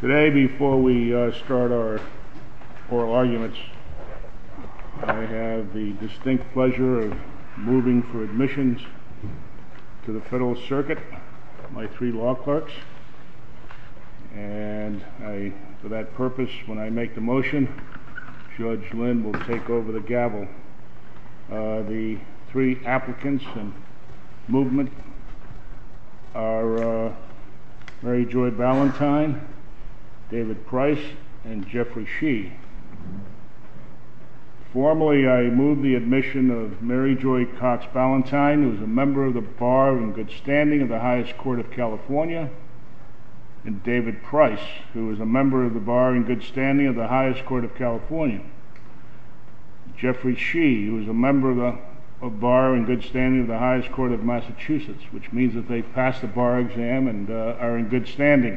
Today, before we start our oral arguments, I have the distinct pleasure of moving for admissions to the Federal Circuit, my three law clerks. And for that purpose, when I make the motion, Judge Lynn will take over the gavel. The three applicants in movement are Mary Joy Valentine, David Price, and Jeffrey Shee. Formally, I move the admission of Mary Joy Cox Valentine, who is a member of the Bar in good standing of the highest court of California, and David Price, who is a member of the Bar in good standing of the highest court of California, and Jeffrey Shee, who is a member of the Bar in good standing of the highest court of Massachusetts, which means that they've passed the Bar exam and are in good standing.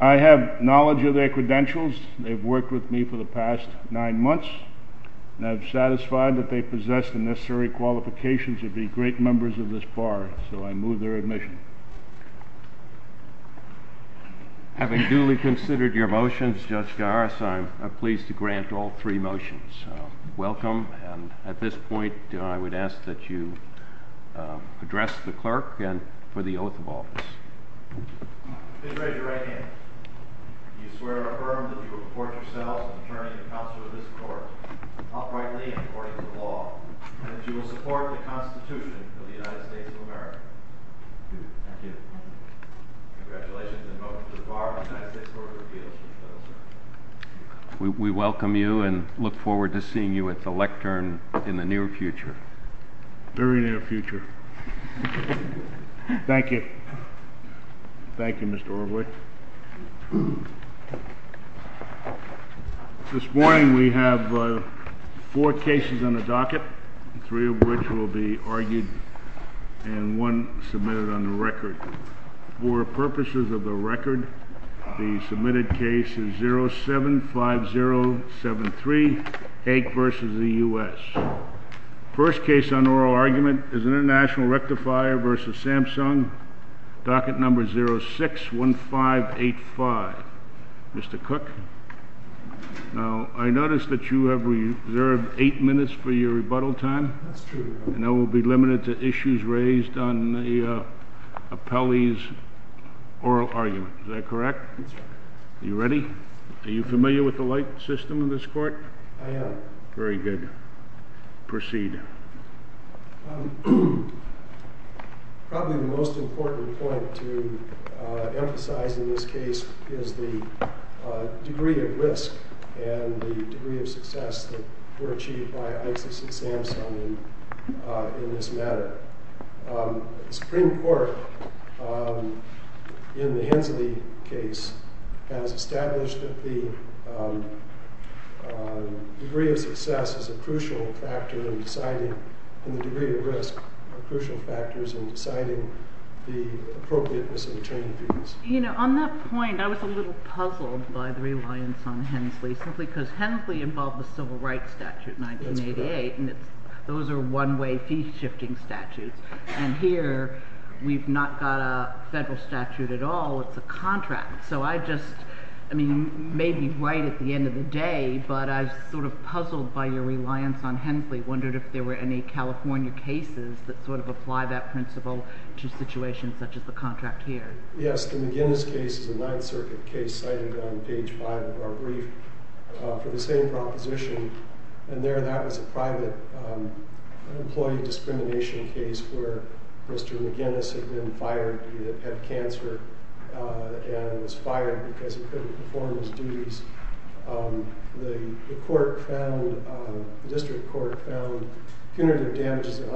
I have knowledge of their credentials. They've worked with me for the past nine months, and I'm satisfied that they possess the necessary qualifications to be great members of this Bar, so I move their admission. Having duly considered your motions, Judge Garris, I'm pleased to grant all three motions. Welcome, and at this point, I would ask that you address the clerk for the oath of office. Please raise your right hand. Do you swear or affirm that you will report yourself, an attorney and counselor of this court, outrightly and according to the law, and that you will support the Constitution of the United States of America? I do. Thank you. Congratulations, and welcome to the Bar of the United States Court of Appeals. We welcome you and look forward to seeing you at the lectern in the near future. Very near future. Thank you. Thank you, Mr. Overley. This morning, we have four cases on the docket, three of which will be argued and one submitted on the record. For purposes of the record, the submitted case is 075073, Haig v. the U.S. First case on oral argument is International Rectifier v. Samsung, docket number 061585. Mr. Cook, I notice that you have reserved eight minutes for your rebuttal time. That's true. And that will be limited to issues raised on the appellee's oral argument. Is that correct? That's correct. Are you ready? Are you familiar with the light system in this court? I am. Very good. Proceed. Probably the most important point to emphasize in this case is the degree of risk and the degree of success that were achieved by ISIS and Samsung in this matter. The Supreme Court in the Hensley case has established that the degree of success is a crucial factor in deciding, and the degree of risk are crucial factors in deciding the appropriateness of the training fees. You know, on that point, I was a little puzzled by the reliance on Hensley simply because Hensley involved the Civil Rights Statute in 1988. And those are one-way fee-shifting statutes. And here, we've not got a federal statute at all. It's a contract. So I just, I mean, maybe right at the end of the day, but I was sort of puzzled by your reliance on Hensley, wondered if there were any California cases that sort of apply that principle to situations such as the contract here. Yes, the McGinnis case is a Ninth Circuit case cited on page five of our brief for the same proposition. And there, that was a private employee discrimination case where Mr. McGinnis had been fired. He had cancer and was fired because he couldn't perform his duties. The court found, the district court found punitive damages of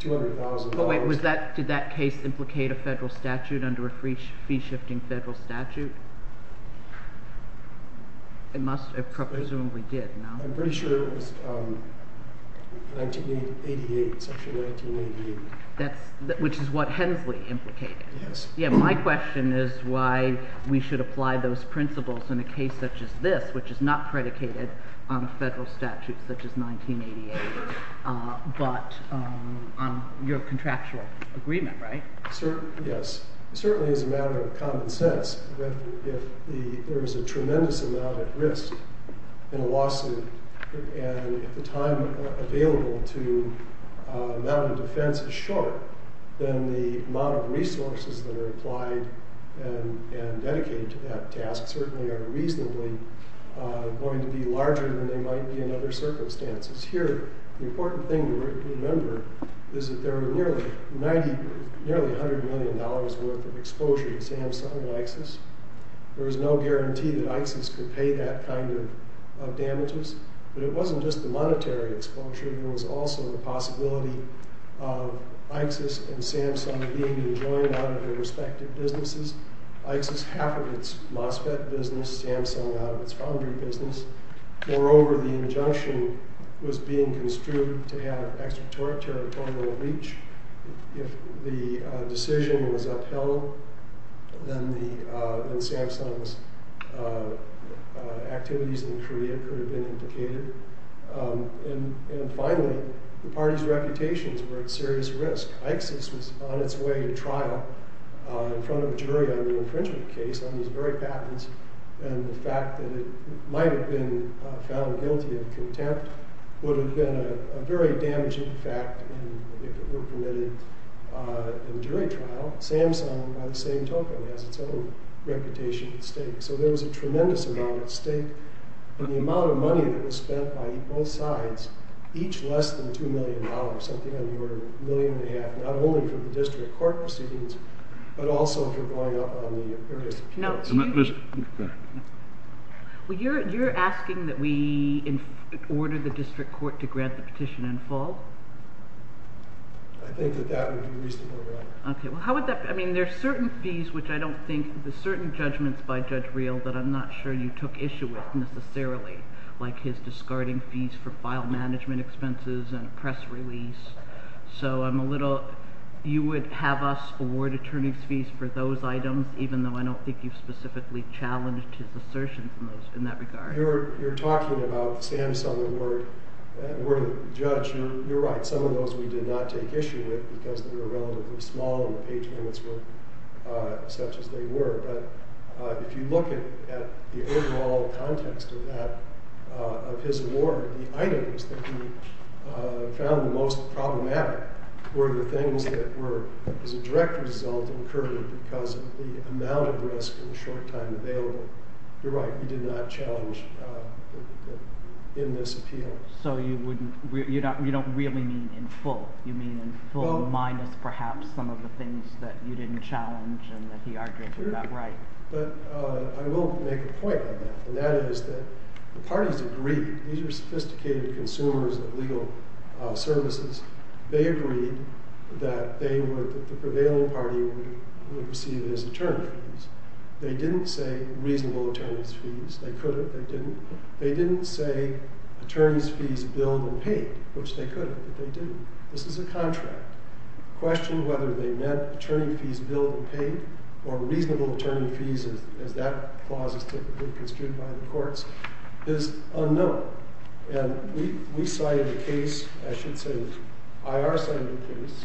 $200,000. Did that case implicate a federal statute under a fee-shifting federal statute? It must have, presumably did, no? I'm pretty sure it was 1988, section 1988. That's, which is what Hensley implicated. Yes. Yeah, my question is why we should apply those principles in a case such as this, which is not predicated on federal statutes such as 1988. But on your contractual agreement, right? Yes. It certainly is a matter of common sense that if there is a tremendous amount at risk in a lawsuit and if the time available to mount a defense is short, then the amount of resources that are applied and dedicated to that task certainly are reasonably going to be larger than they might be in other circumstances. Here, the important thing to remember is that there were nearly $100 million worth of exposure to Samsung and Iksys. There is no guarantee that Iksys could pay that kind of damages. But it wasn't just the monetary exposure. There was also the possibility of Iksys and Samsung being rejoined out of their respective businesses. Iksys half of its MOSFET business, Samsung out of its foundry business. Moreover, the injunction was being construed to have extraterritorial reach. If the decision was upheld, then Samsung's activities in Korea could have been implicated. And finally, the party's reputations were at serious risk. Iksys was on its way to trial in front of a jury on the infringement case on these very patents. And the fact that it might have been found guilty of contempt would have been a very damaging fact if it were permitted in jury trial. Samsung, by the same token, has its own reputation at stake. So there was a tremendous amount at stake. And the amount of money that was spent by both sides, each less than $2 million, something on the order of a million and a half, not only for the district court proceedings, but also for going up on the appearance of patents. Well, you're asking that we order the district court to grant the petition in full? I think that that would be reasonably right. Okay. Well, how would that – I mean, there are certain fees, which I don't think – there are certain judgments by Judge Real that I'm not sure you took issue with necessarily, like his discarding fees for file management expenses and press release. So I'm a little – you would have us award attorney's fees for those items, even though I don't think you've specifically challenged his assertion in that regard. You're talking about the Samsung award. We're the judge. You're right. Some of those we did not take issue with because they were relatively small and the page limits were such as they were. But if you look at the overall context of that, of his award, the items that we found the most problematic were the things that were, as a direct result, incurred because of the amount of risk and the short time available. You're right. We did not challenge in this appeal. So you wouldn't – you don't really mean in full. You mean in full minus perhaps some of the things that you didn't challenge and that he argued were not right. But I will make a point on that, and that is that the parties agreed. These are sophisticated consumers of legal services. They agreed that they would – the prevailing party would receive it as attorney fees. They didn't say reasonable attorney's fees. They could have. They didn't. They didn't say attorney's fees billed and paid, which they could have, but they didn't. This is a contract. The question whether they meant attorney fees billed and paid or reasonable attorney fees, as that clause is typically construed by the courts, is unknown. And we cited a case – I should say IR cited a case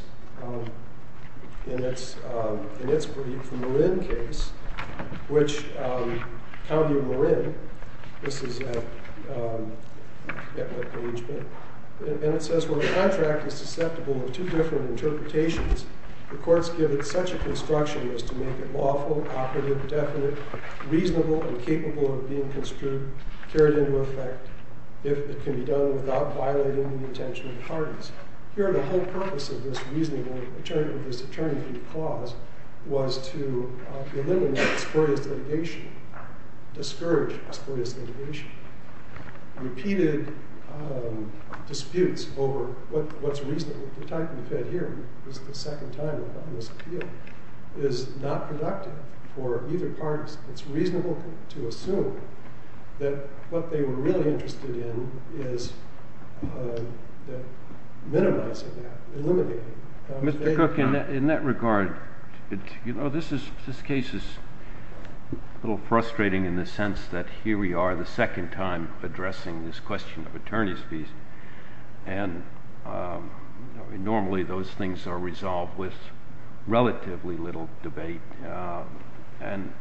in its brief, the Marin case, which – I forget what page. And it says, well, the contract is susceptible to two different interpretations. The courts give it such a construction as to make it lawful, operative, definite, reasonable, and capable of being construed, carried into effect, if it can be done without violating the intention of the parties. Here the whole purpose of this reasonable – of this attorney fee clause was to eliminate spurious litigation, discourage spurious litigation. Repeated disputes over what's reasonable. We talked in the Fed hearing. This is the second time we've done this appeal. It is not productive for either parties. It's reasonable to assume that what they were really interested in is minimizing that, eliminating it. Mr. Cook, in that regard, you know, this case is a little frustrating in the sense that here we are, the second time addressing this question of attorney fees. And normally those things are resolved with relatively little debate. And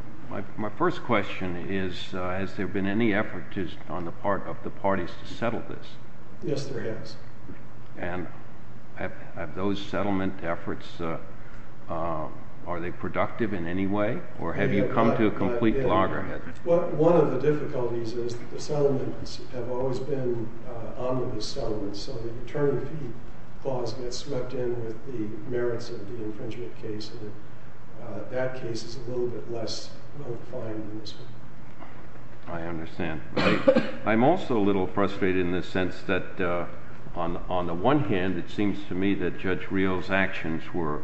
my first question is, has there been any effort on the part of the parties to settle this? Yes, there has. And have those settlement efforts – are they productive in any way? Or have you come to a complete loggerhead? One of the difficulties is that the settlements have always been omnibus settlements. So the attorney fee clause gets swept in with the merits of the infringement case. And that case is a little bit less fine than this one. I understand. I'm also a little frustrated in the sense that on the one hand, it seems to me that Judge Rios' actions were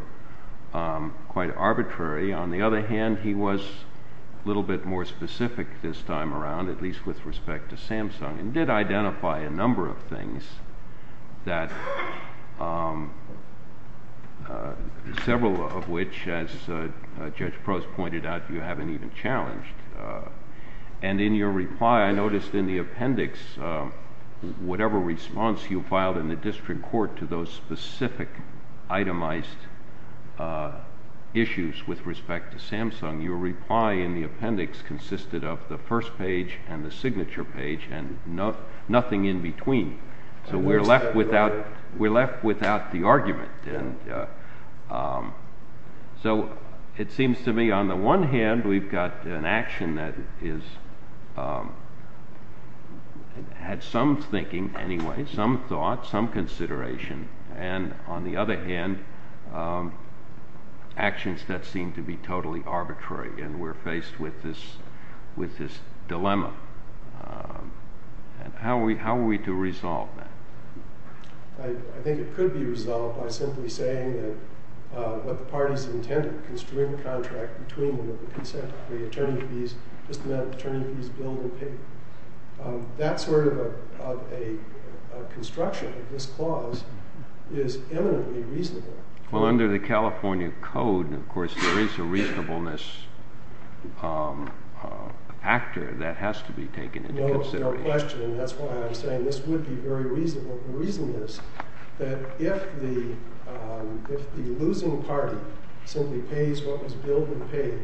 quite arbitrary. On the other hand, he was a little bit more specific this time around, at least with respect to Samsung, and did identify a number of things that – several of which, as Judge Prost pointed out, you haven't even challenged. And in your reply, I noticed in the appendix, whatever response you filed in the district court to those specific itemized issues with respect to Samsung, your reply in the appendix consisted of the first page and the signature page and nothing in between. So we're left without the argument. So it seems to me on the one hand, we've got an action that had some thinking anyway, some thought, some consideration. And on the other hand, actions that seem to be totally arbitrary, and we're faced with this dilemma. How are we to resolve that? I think it could be resolved by simply saying that what the parties intended, construing the contract between them with the consent of the attorney fees, just the amount of attorney fees billed and paid. That sort of a construction of this clause is eminently reasonable. Well, under the California Code, of course, there is a reasonableness factor that has to be taken into consideration. And that's why I'm saying this would be very reasonable. The reason is that if the losing party simply pays what was billed and paid,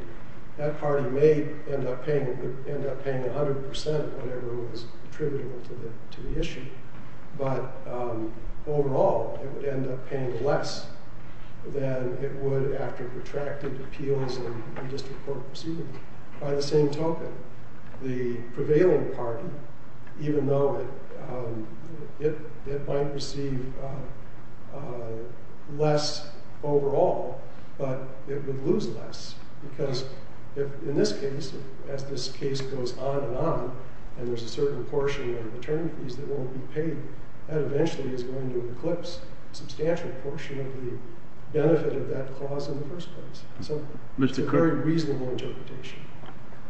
that party may end up paying 100% of whatever was attributable to the issue. But overall, it would end up paying less than it would after protracted appeals and district court proceedings. By the same token, the prevailing party, even though it might receive less overall, but it would lose less. Because in this case, as this case goes on and on, and there's a certain portion of attorney fees that won't be paid, that eventually is going to eclipse a substantial portion of the benefit of that clause in the first place. So it's a very reasonable interpretation.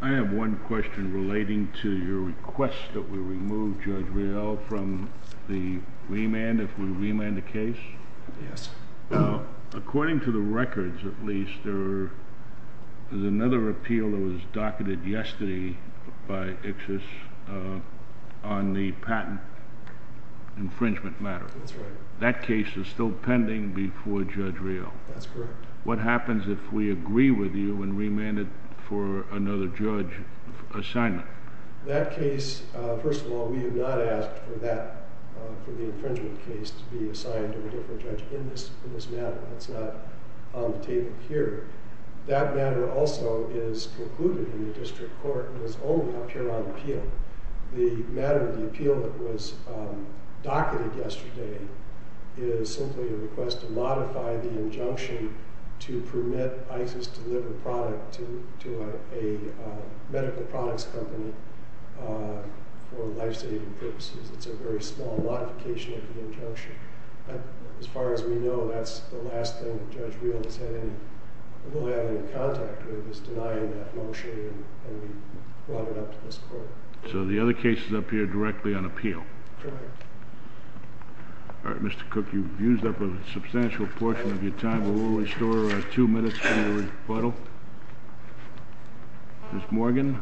I have one question relating to your request that we remove Judge Riel from the remand, if we remand the case. Yes. According to the records, at least, there is another appeal that was docketed yesterday by ICSIS on the patent infringement matter. That's right. That case is still pending before Judge Riel. That's correct. What happens if we agree with you and remand it for another judge assignment? That case, first of all, we have not asked for that, for the infringement case, to be assigned to a different judge in this matter. That's not on the table here. That matter also is concluded in the district court and is only up here on appeal. The matter of the appeal that was docketed yesterday is simply a request to modify the injunction to permit ICSIS to deliver product to a medical products company for life-saving purposes. It's a very small modification of the injunction. As far as we know, that's the last thing Judge Riel is having, or will have any contact with, is denying that motion and we brought it up to this court. So the other case is up here directly on appeal. Correct. All right, Mr. Cook, you've used up a substantial portion of your time. We will restore two minutes for your rebuttal. Ms. Morgan.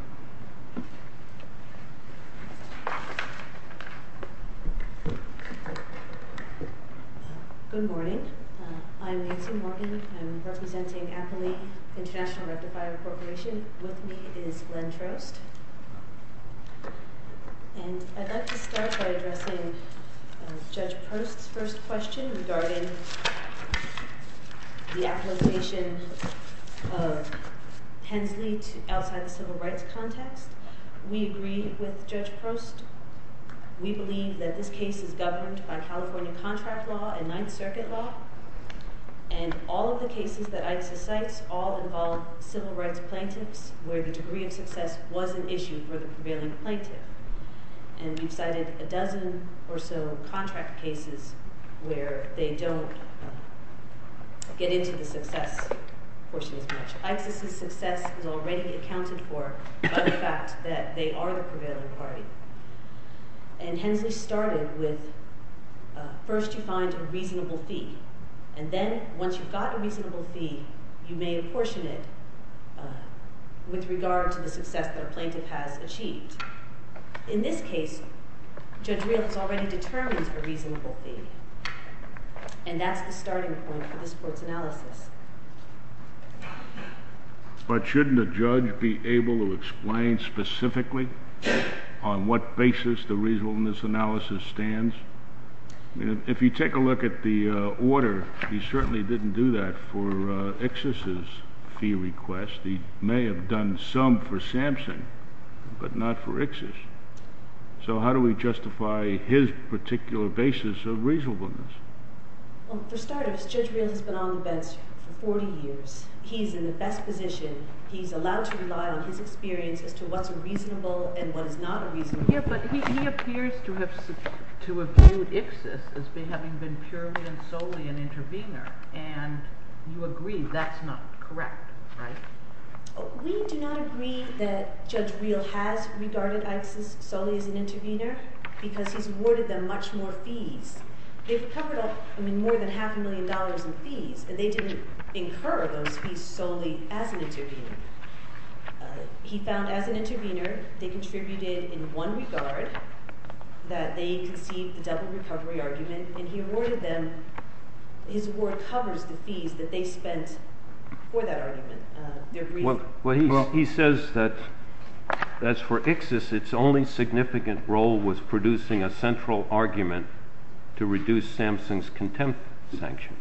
Good morning. I'm Nancy Morgan. I'm representing Appley International Rectifier Corporation. With me is Glenn Trost. And I'd like to start by addressing Judge Prost's first question regarding the application of Hensley outside the civil rights context. We agree with Judge Prost. We believe that this case is governed by California contract law and Ninth Circuit law. And all of the cases that ICSIS cites all involve civil rights plaintiffs where the degree of success was an issue for the prevailing plaintiff. And we've cited a dozen or so contract cases where they don't get into the success portion as much. ICSIS's success is already accounted for by the fact that they are the prevailing party. And Hensley started with first you find a reasonable fee. And then once you've got a reasonable fee, you may apportion it with regard to the success that a plaintiff has achieved. In this case, Judge Real has already determined a reasonable fee. And that's the starting point for this court's analysis. But shouldn't a judge be able to explain specifically on what basis the reasonableness analysis stands? If you take a look at the order, he certainly didn't do that for ICSIS's fee request. He may have done some for Sampson, but not for ICSIS. So how do we justify his particular basis of reasonableness? Well, for starters, Judge Real has been on the bench for 40 years. He's in the best position. He's allowed to rely on his experience as to what's reasonable and what is not reasonable. Yeah, but he appears to have viewed ICSIS as having been purely and solely an intervener. And you agree that's not correct, right? We do not agree that Judge Real has regarded ICSIS solely as an intervener because he's awarded them much more fees. They've covered up more than half a million dollars in fees, and they didn't incur those fees solely as an intervener. He found as an intervener they contributed in one regard, that they conceived the double recovery argument, and he awarded them—his award covers the fees that they spent for that argument. Well, he says that as for ICSIS, its only significant role was producing a central argument to reduce Sampson's contempt sanction.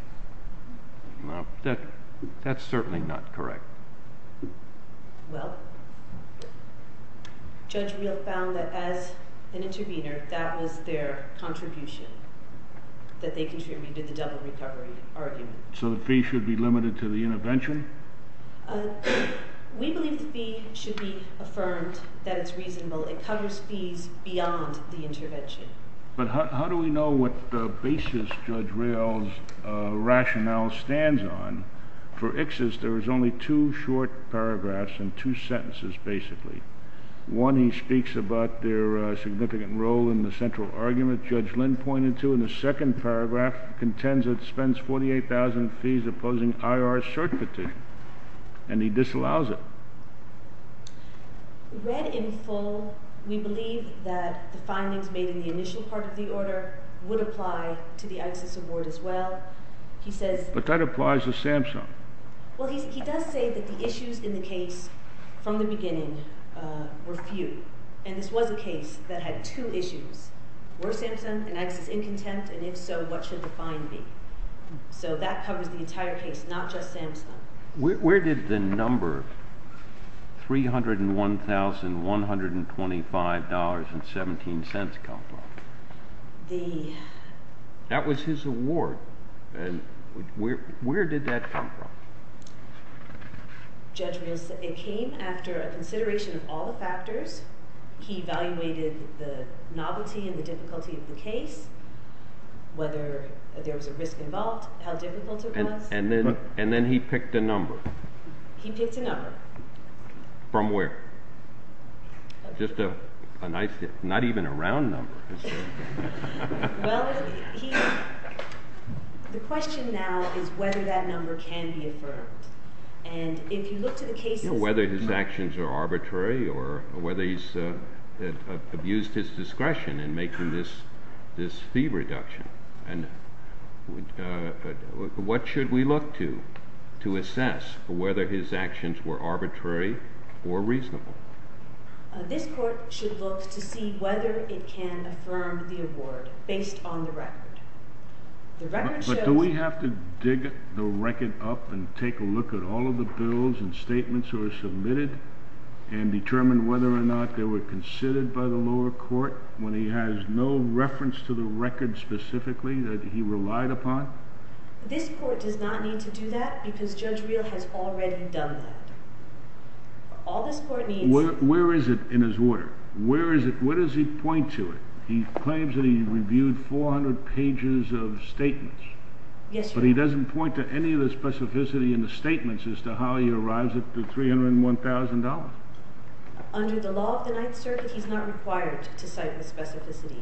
That's certainly not correct. Well, Judge Real found that as an intervener, that was their contribution, that they contributed the double recovery argument. So the fee should be limited to the intervention? We believe the fee should be affirmed that it's reasonable. It covers fees beyond the intervention. But how do we know what the basis Judge Real's rationale stands on? For ICSIS, there is only two short paragraphs and two sentences, basically. One, he speaks about their significant role in the central argument Judge Lynn pointed to, and the second paragraph contends it spends 48,000 fees opposing IR's cert petition, and he disallows it. Read in full, we believe that the findings made in the initial part of the order would apply to the ICSIS award as well. But that applies to Sampson. Well, he does say that the issues in the case from the beginning were few, and this was a case that had two issues. Were Sampson an ICSIS in contempt, and if so, what should the fine be? So that covers the entire case, not just Sampson. Where did the number $301,125.17 come from? That was his award. Where did that come from? Judge Real said it came after a consideration of all the factors. He evaluated the novelty and the difficulty of the case, whether there was a risk involved, how difficult it was. And then he picked a number. He picked a number. From where? Just a nice, not even a round number. Well, the question now is whether that number can be affirmed. And if you look to the cases— Whether his actions are arbitrary or whether he's abused his discretion in making this fee reduction. And what should we look to to assess whether his actions were arbitrary or reasonable? This court should look to see whether it can affirm the award based on the record. The record shows— But do we have to dig the record up and take a look at all of the bills and statements that were submitted and determine whether or not they were considered by the lower court when he has no reference to the record specifically that he relied upon? This court does not need to do that because Judge Real has already done that. All this court needs— Where is it in his order? Where is it? Where does he point to it? He claims that he reviewed 400 pages of statements. Yes, Your Honor. But he doesn't point to any of the specificity in the statements as to how he arrives at the $301,000. Under the law of the Ninth Circuit, he's not required to cite the specificity.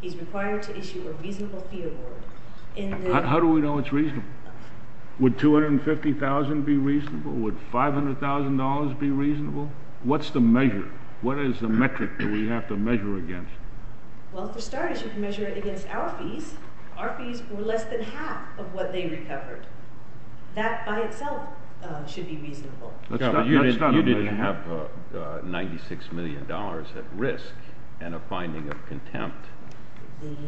He's required to issue a reasonable fee award. How do we know it's reasonable? Would $250,000 be reasonable? Would $500,000 be reasonable? What's the measure? What is the metric that we have to measure against? Well, to start, you should measure it against our fees. Our fees were less than half of what they recovered. That by itself should be reasonable. You didn't have $96 million at risk and a finding of contempt. It's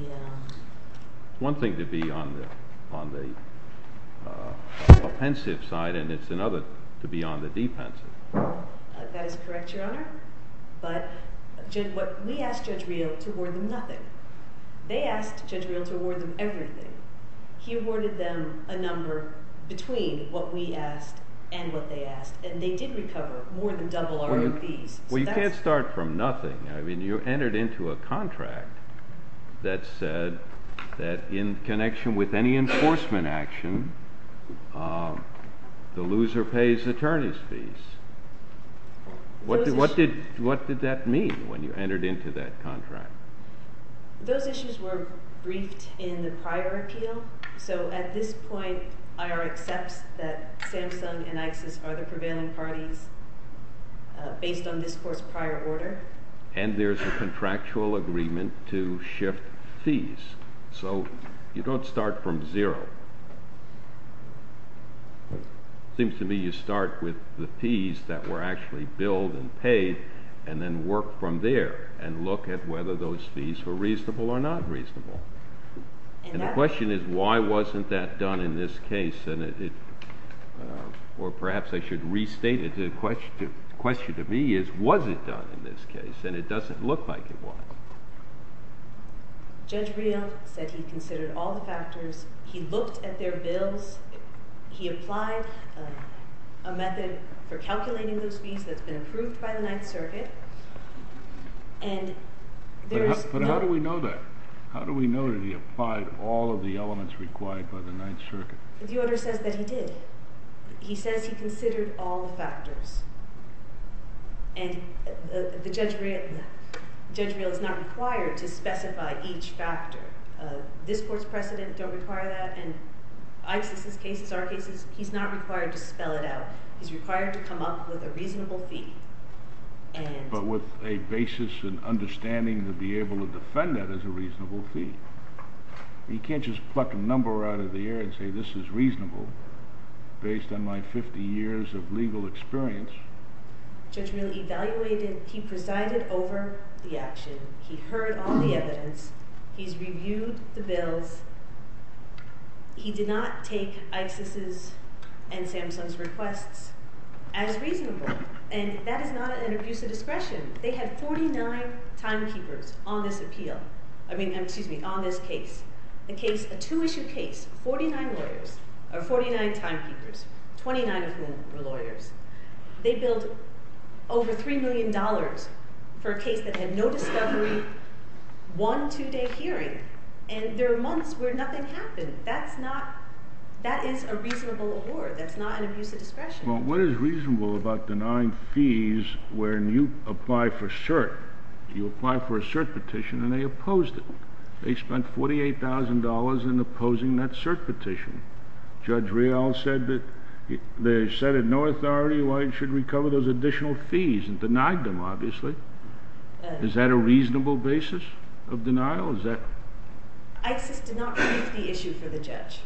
one thing to be on the offensive side, and it's another to be on the defensive. That is correct, Your Honor. But we asked Judge Real to award them nothing. They asked Judge Real to award them everything. He awarded them a number between what we asked and what they asked. And they did recover more than double our fees. Well, you can't start from nothing. I mean, you entered into a contract that said that in connection with any enforcement action, the loser pays attorney's fees. What did that mean when you entered into that contract? Those issues were briefed in the prior appeal. So at this point, IR accepts that Samsung and ISIS are the prevailing parties based on this Court's prior order. And there's a contractual agreement to shift fees. So you don't start from zero. It seems to me you start with the fees that were actually billed and paid and then work from there and look at whether those fees were reasonable or not reasonable. And the question is, why wasn't that done in this case? Or perhaps I should restate it. The question to me is, was it done in this case? And it doesn't look like it was. Judge Real said he considered all the factors. He looked at their bills. He applied a method for calculating those fees that's been approved by the Ninth Circuit. But how do we know that? How do we know that he applied all of the elements required by the Ninth Circuit? The order says that he did. He says he considered all the factors. And Judge Real is not required to specify each factor. This Court's precedent don't require that. And ISIS's cases, our cases, he's not required to spell it out. He's required to come up with a reasonable fee. But with a basis and understanding to be able to defend that as a reasonable fee. He can't just pluck a number out of the air and say, this is reasonable based on my 50 years of legal experience. Judge Real evaluated. He presided over the action. He heard all the evidence. He's reviewed the bills. He did not take ISIS's and Samsung's requests as reasonable. And that is not an abuse of discretion. They had 49 timekeepers on this appeal. I mean, excuse me, on this case. A two-issue case, 49 lawyers, or 49 timekeepers, 29 of whom were lawyers. They billed over $3 million for a case that had no discovery, one two-day hearing. And there are months where nothing happened. That's not an abuse of discretion. Well, what is reasonable about denying fees when you apply for cert? You apply for a cert petition and they opposed it. They spent $48,000 in opposing that cert petition. Judge Real said that they said it had no authority. Why should we cover those additional fees and denied them, obviously. Is that a reasonable basis of denial? ISIS did not brief the issue for the judge.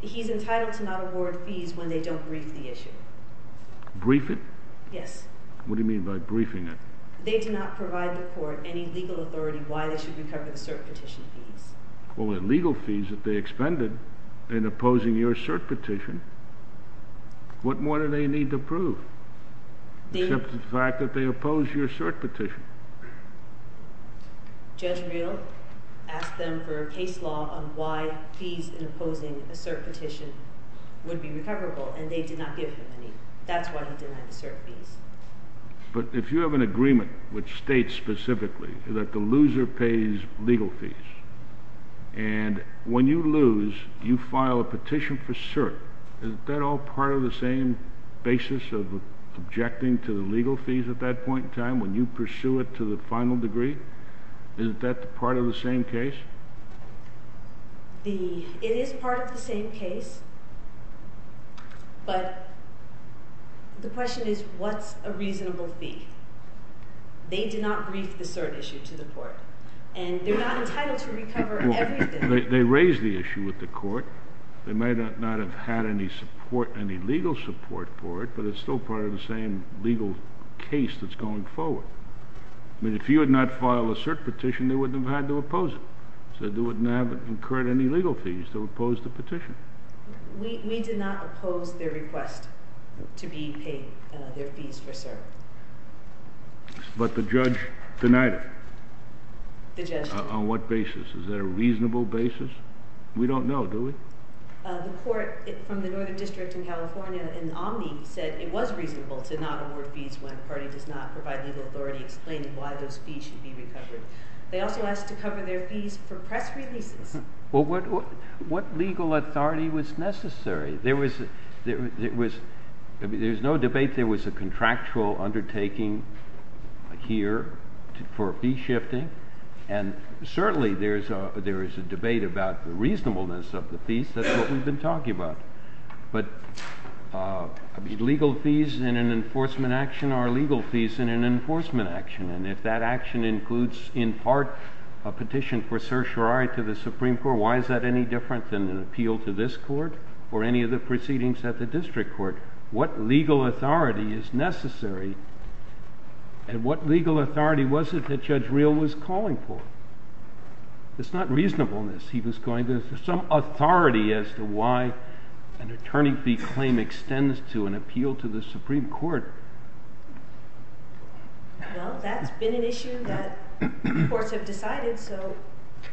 He's entitled to not award fees when they don't brief the issue. Brief it? Yes. What do you mean by briefing it? They did not provide the court any legal authority why they should recover the cert petition fees. Well, with legal fees that they expended in opposing your cert petition, what more do they need to prove? Except the fact that they opposed your cert petition. Judge Real asked them for a case law on why fees in opposing a cert petition would be recoverable, and they did not give him any. That's why he denied the cert fees. But if you have an agreement which states specifically that the loser pays legal fees, and when you lose, you file a petition for cert, isn't that all part of the same basis of objecting to the legal fees at that point in time when you pursue it to the final degree? Isn't that part of the same case? It is part of the same case, but the question is what's a reasonable fee? They did not brief the cert issue to the court, and they're not entitled to recover everything. They raised the issue with the court. They may not have had any support, any legal support for it, but it's still part of the same legal case that's going forward. I mean, if you had not filed a cert petition, they wouldn't have had to oppose it. So they wouldn't have incurred any legal fees to oppose the petition. We did not oppose their request to be paid their fees for cert. But the judge denied it. The judge denied it. On what basis? Is there a reasonable basis? We don't know, do we? The court from the Northern District in California in Omni said it was reasonable to not award fees when the party does not provide legal authority explaining why those fees should be recovered. They also asked to cover their fees for press releases. Well, what legal authority was necessary? There was no debate. There was a contractual undertaking here for fee shifting, and certainly there is a debate about the reasonableness of the fees. That's what we've been talking about. But legal fees in an enforcement action are legal fees in an enforcement action, and if that action includes in part a petition for certiorari to the Supreme Court, why is that any different than an appeal to this court or any of the proceedings at the district court? What legal authority is necessary? And what legal authority was it that Judge Real was calling for? It's not reasonableness. He was calling for some authority as to why an attorney fee claim extends to an appeal to the Supreme Court. Well, that's been an issue that courts have decided, so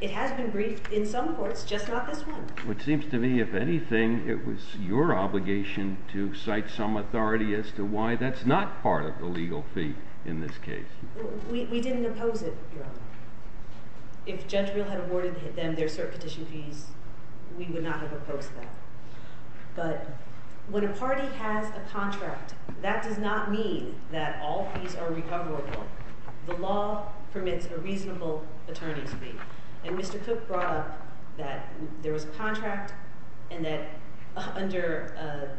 it has been briefed in some courts, just not this one. Well, it seems to me, if anything, it was your obligation to cite some authority as to why that's not part of the legal fee in this case. We didn't oppose it, Your Honor. If Judge Real had awarded them their cert petition fees, we would not have opposed that. But when a party has a contract, that does not mean that all fees are recoverable. The law permits a reasonable attorney's fee. And Mr. Cook brought up that there was a contract and that under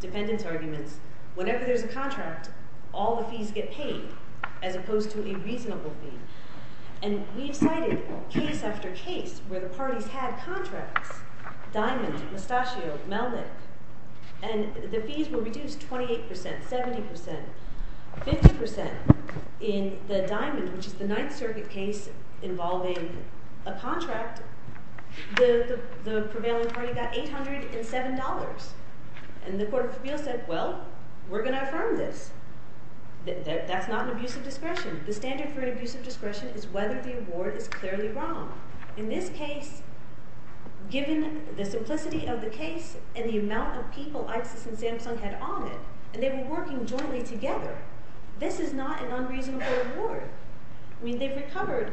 dependents' arguments, whenever there's a contract, all the fees get paid, as opposed to a reasonable fee. And we've cited case after case where the parties had contracts, Diamond, Mustachioed, Melnick, and the fees were reduced 28%, 70%, 50%. In the Diamond, which is the Ninth Circuit case involving a contract, the prevailing party got $807. And the Court of Appeals said, well, we're going to affirm this. That's not an abuse of discretion. The standard for an abuse of discretion is whether the award is clearly wrong. In this case, given the simplicity of the case and the amount of people ISIS and Samsung had on it, and they were working jointly together, this is not an unreasonable award. I mean, they've recovered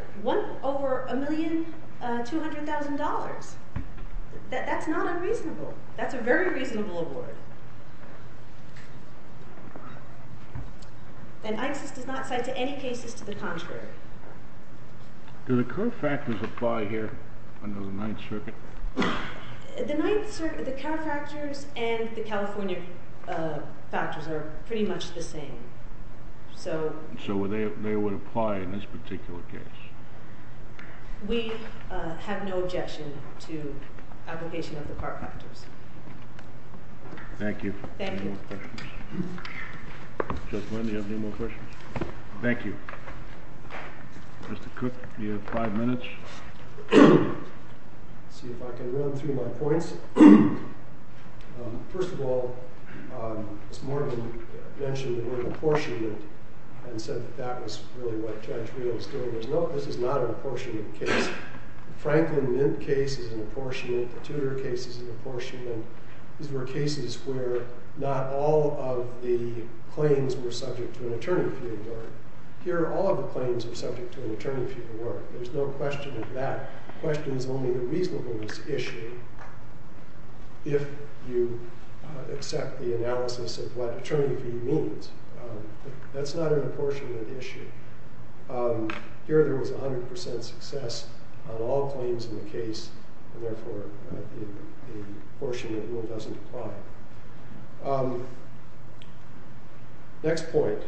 over $1,200,000. That's not unreasonable. That's a very reasonable award. And ISIS does not cite any cases to the contrary. Do the current factors apply here under the Ninth Circuit? The Ninth Circuit, the current factors, and the California factors are pretty much the same. So they would apply in this particular case. We have no objection to application of the current factors. Thank you. Thank you. Judge Lind, do you have any more questions? Thank you. Mr. Cook, you have five minutes. Let's see if I can run through my points. First of all, Ms. Morgan mentioned the word apportionment and said that that was really what Judge Reid was doing. This is not an apportionment case. The Franklin Mint case is an apportionment. The Tudor case is an apportionment. These were cases where not all of the claims were subject to an attorney-fee award. Here, all of the claims are subject to an attorney-fee award. There's no question of that. The question is only the reasonableness issue. If you accept the analysis of what attorney-fee means, that's not an apportionment issue. Here, there was 100% success on all claims in the case, and therefore, the apportionment rule doesn't apply. Next point.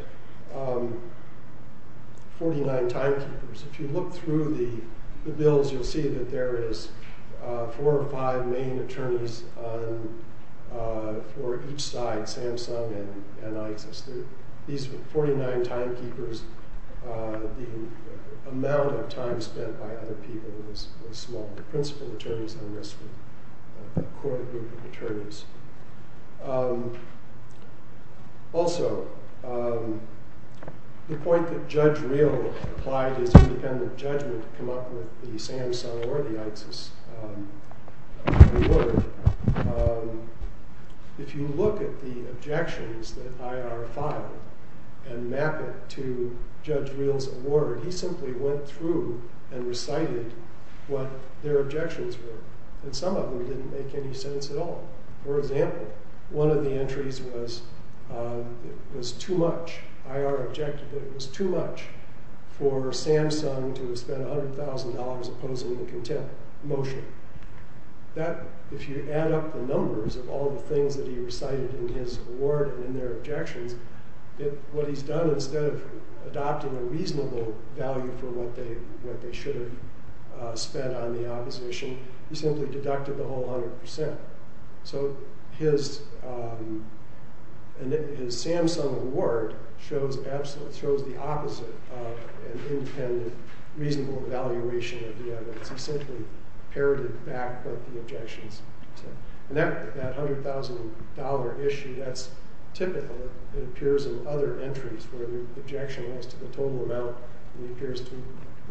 49 timekeepers. If you look through the bills, you'll see that there is four or five main attorneys for each side, Samsung and ISIS. These were 49 timekeepers. The amount of time spent by other people was small. The principal attorneys on this were a core group of attorneys. Also, the point that Judge Reil applied his independent judgment to come up with the Samsung or the ISIS award, if you look at the objections that IR filed and map it to Judge Reil's award, he simply went through and recited what their objections were. Some of them didn't make any sense at all. For example, one of the entries was too much. IR objected that it was too much for Samsung to have spent $100,000 opposing the contempt motion. That, if you add up the numbers of all the things that he recited in his award and in their objections, what he's done instead of adopting a reasonable value for what they should have spent on the opposition, he simply deducted the whole 100%. So his Samsung award shows the opposite of an independent, reasonable evaluation of the evidence. He simply parroted back what the objections said. And that $100,000 issue, that's typical. It appears in other entries where the objection goes to the total amount, and he appears to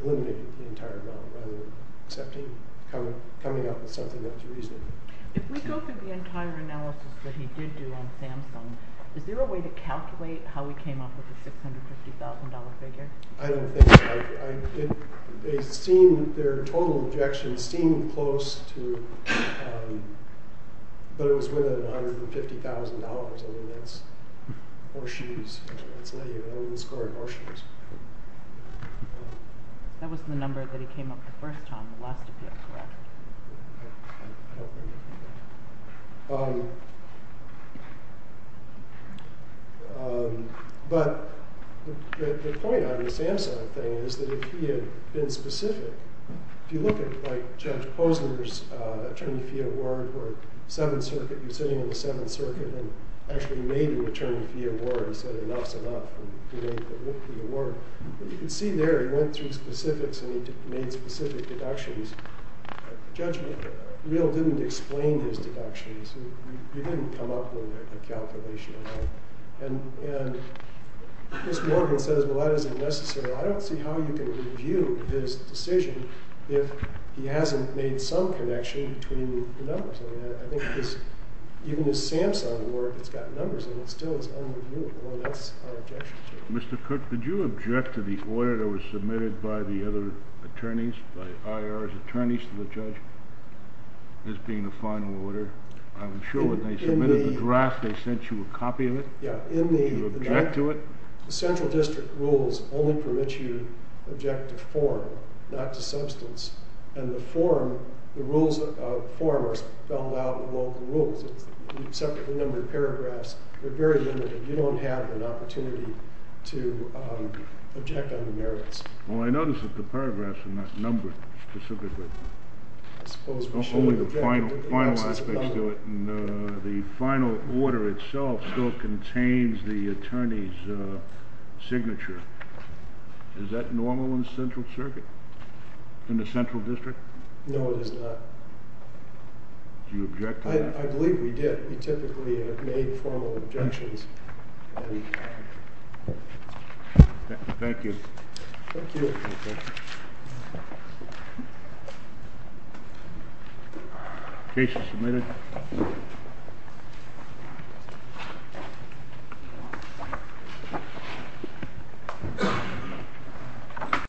eliminate the entire amount rather than accepting, coming up with something not too reasonable. If we go through the entire analysis that he did do on Samsung, is there a way to calculate how he came up with a $650,000 figure? I don't think so. They seem, their total objections seem close to, but it was within $150,000. I mean, that's horseshoes. That's not even, I wouldn't score it horseshoes. That was the number that he came up the first time, the last time he had a contract. I don't remember. But the point on the Samsung thing is that if he had been specific, if you look at, like, Judge Posner's attorney fee award for the Seventh Circuit, he was sitting in the Seventh Circuit and actually made an attorney fee award. He said, enough's enough. And he made the award. But you can see there, he went through specifics and he made specific deductions. Judgment, he really didn't explain his deductions. He didn't come up with a calculation at all. And Ms. Morgan says, well, that isn't necessary. I don't see how you can review his decision if he hasn't made some connection between the numbers. I mean, I think even his Samsung work, it's got numbers in it. Still, it's unreviewable. And that's our objection to it. Mr. Cook, did you object to the order that was submitted by the other attorneys, by IR's attorneys to the judge, this being the final order? I'm sure when they submitted the draft, they sent you a copy of it. Yeah. Did you object to it? The central district rules only permit you to object to form, not to substance. And the form, the rules of form are spelled out in the local rules. It's a separate number of paragraphs. They're very limited. You don't have an opportunity to object on the merits. Well, I notice that the paragraphs are not numbered specifically. I suppose we should object to the absence of number. Only the final aspects do it. And the final order itself still contains the attorney's signature. Is that normal in the central circuit, in the central district? No, it is not. Did you object to that? I believe we did. We typically have made formal objections. Thank you. Thank you. Thank you. Case is submitted.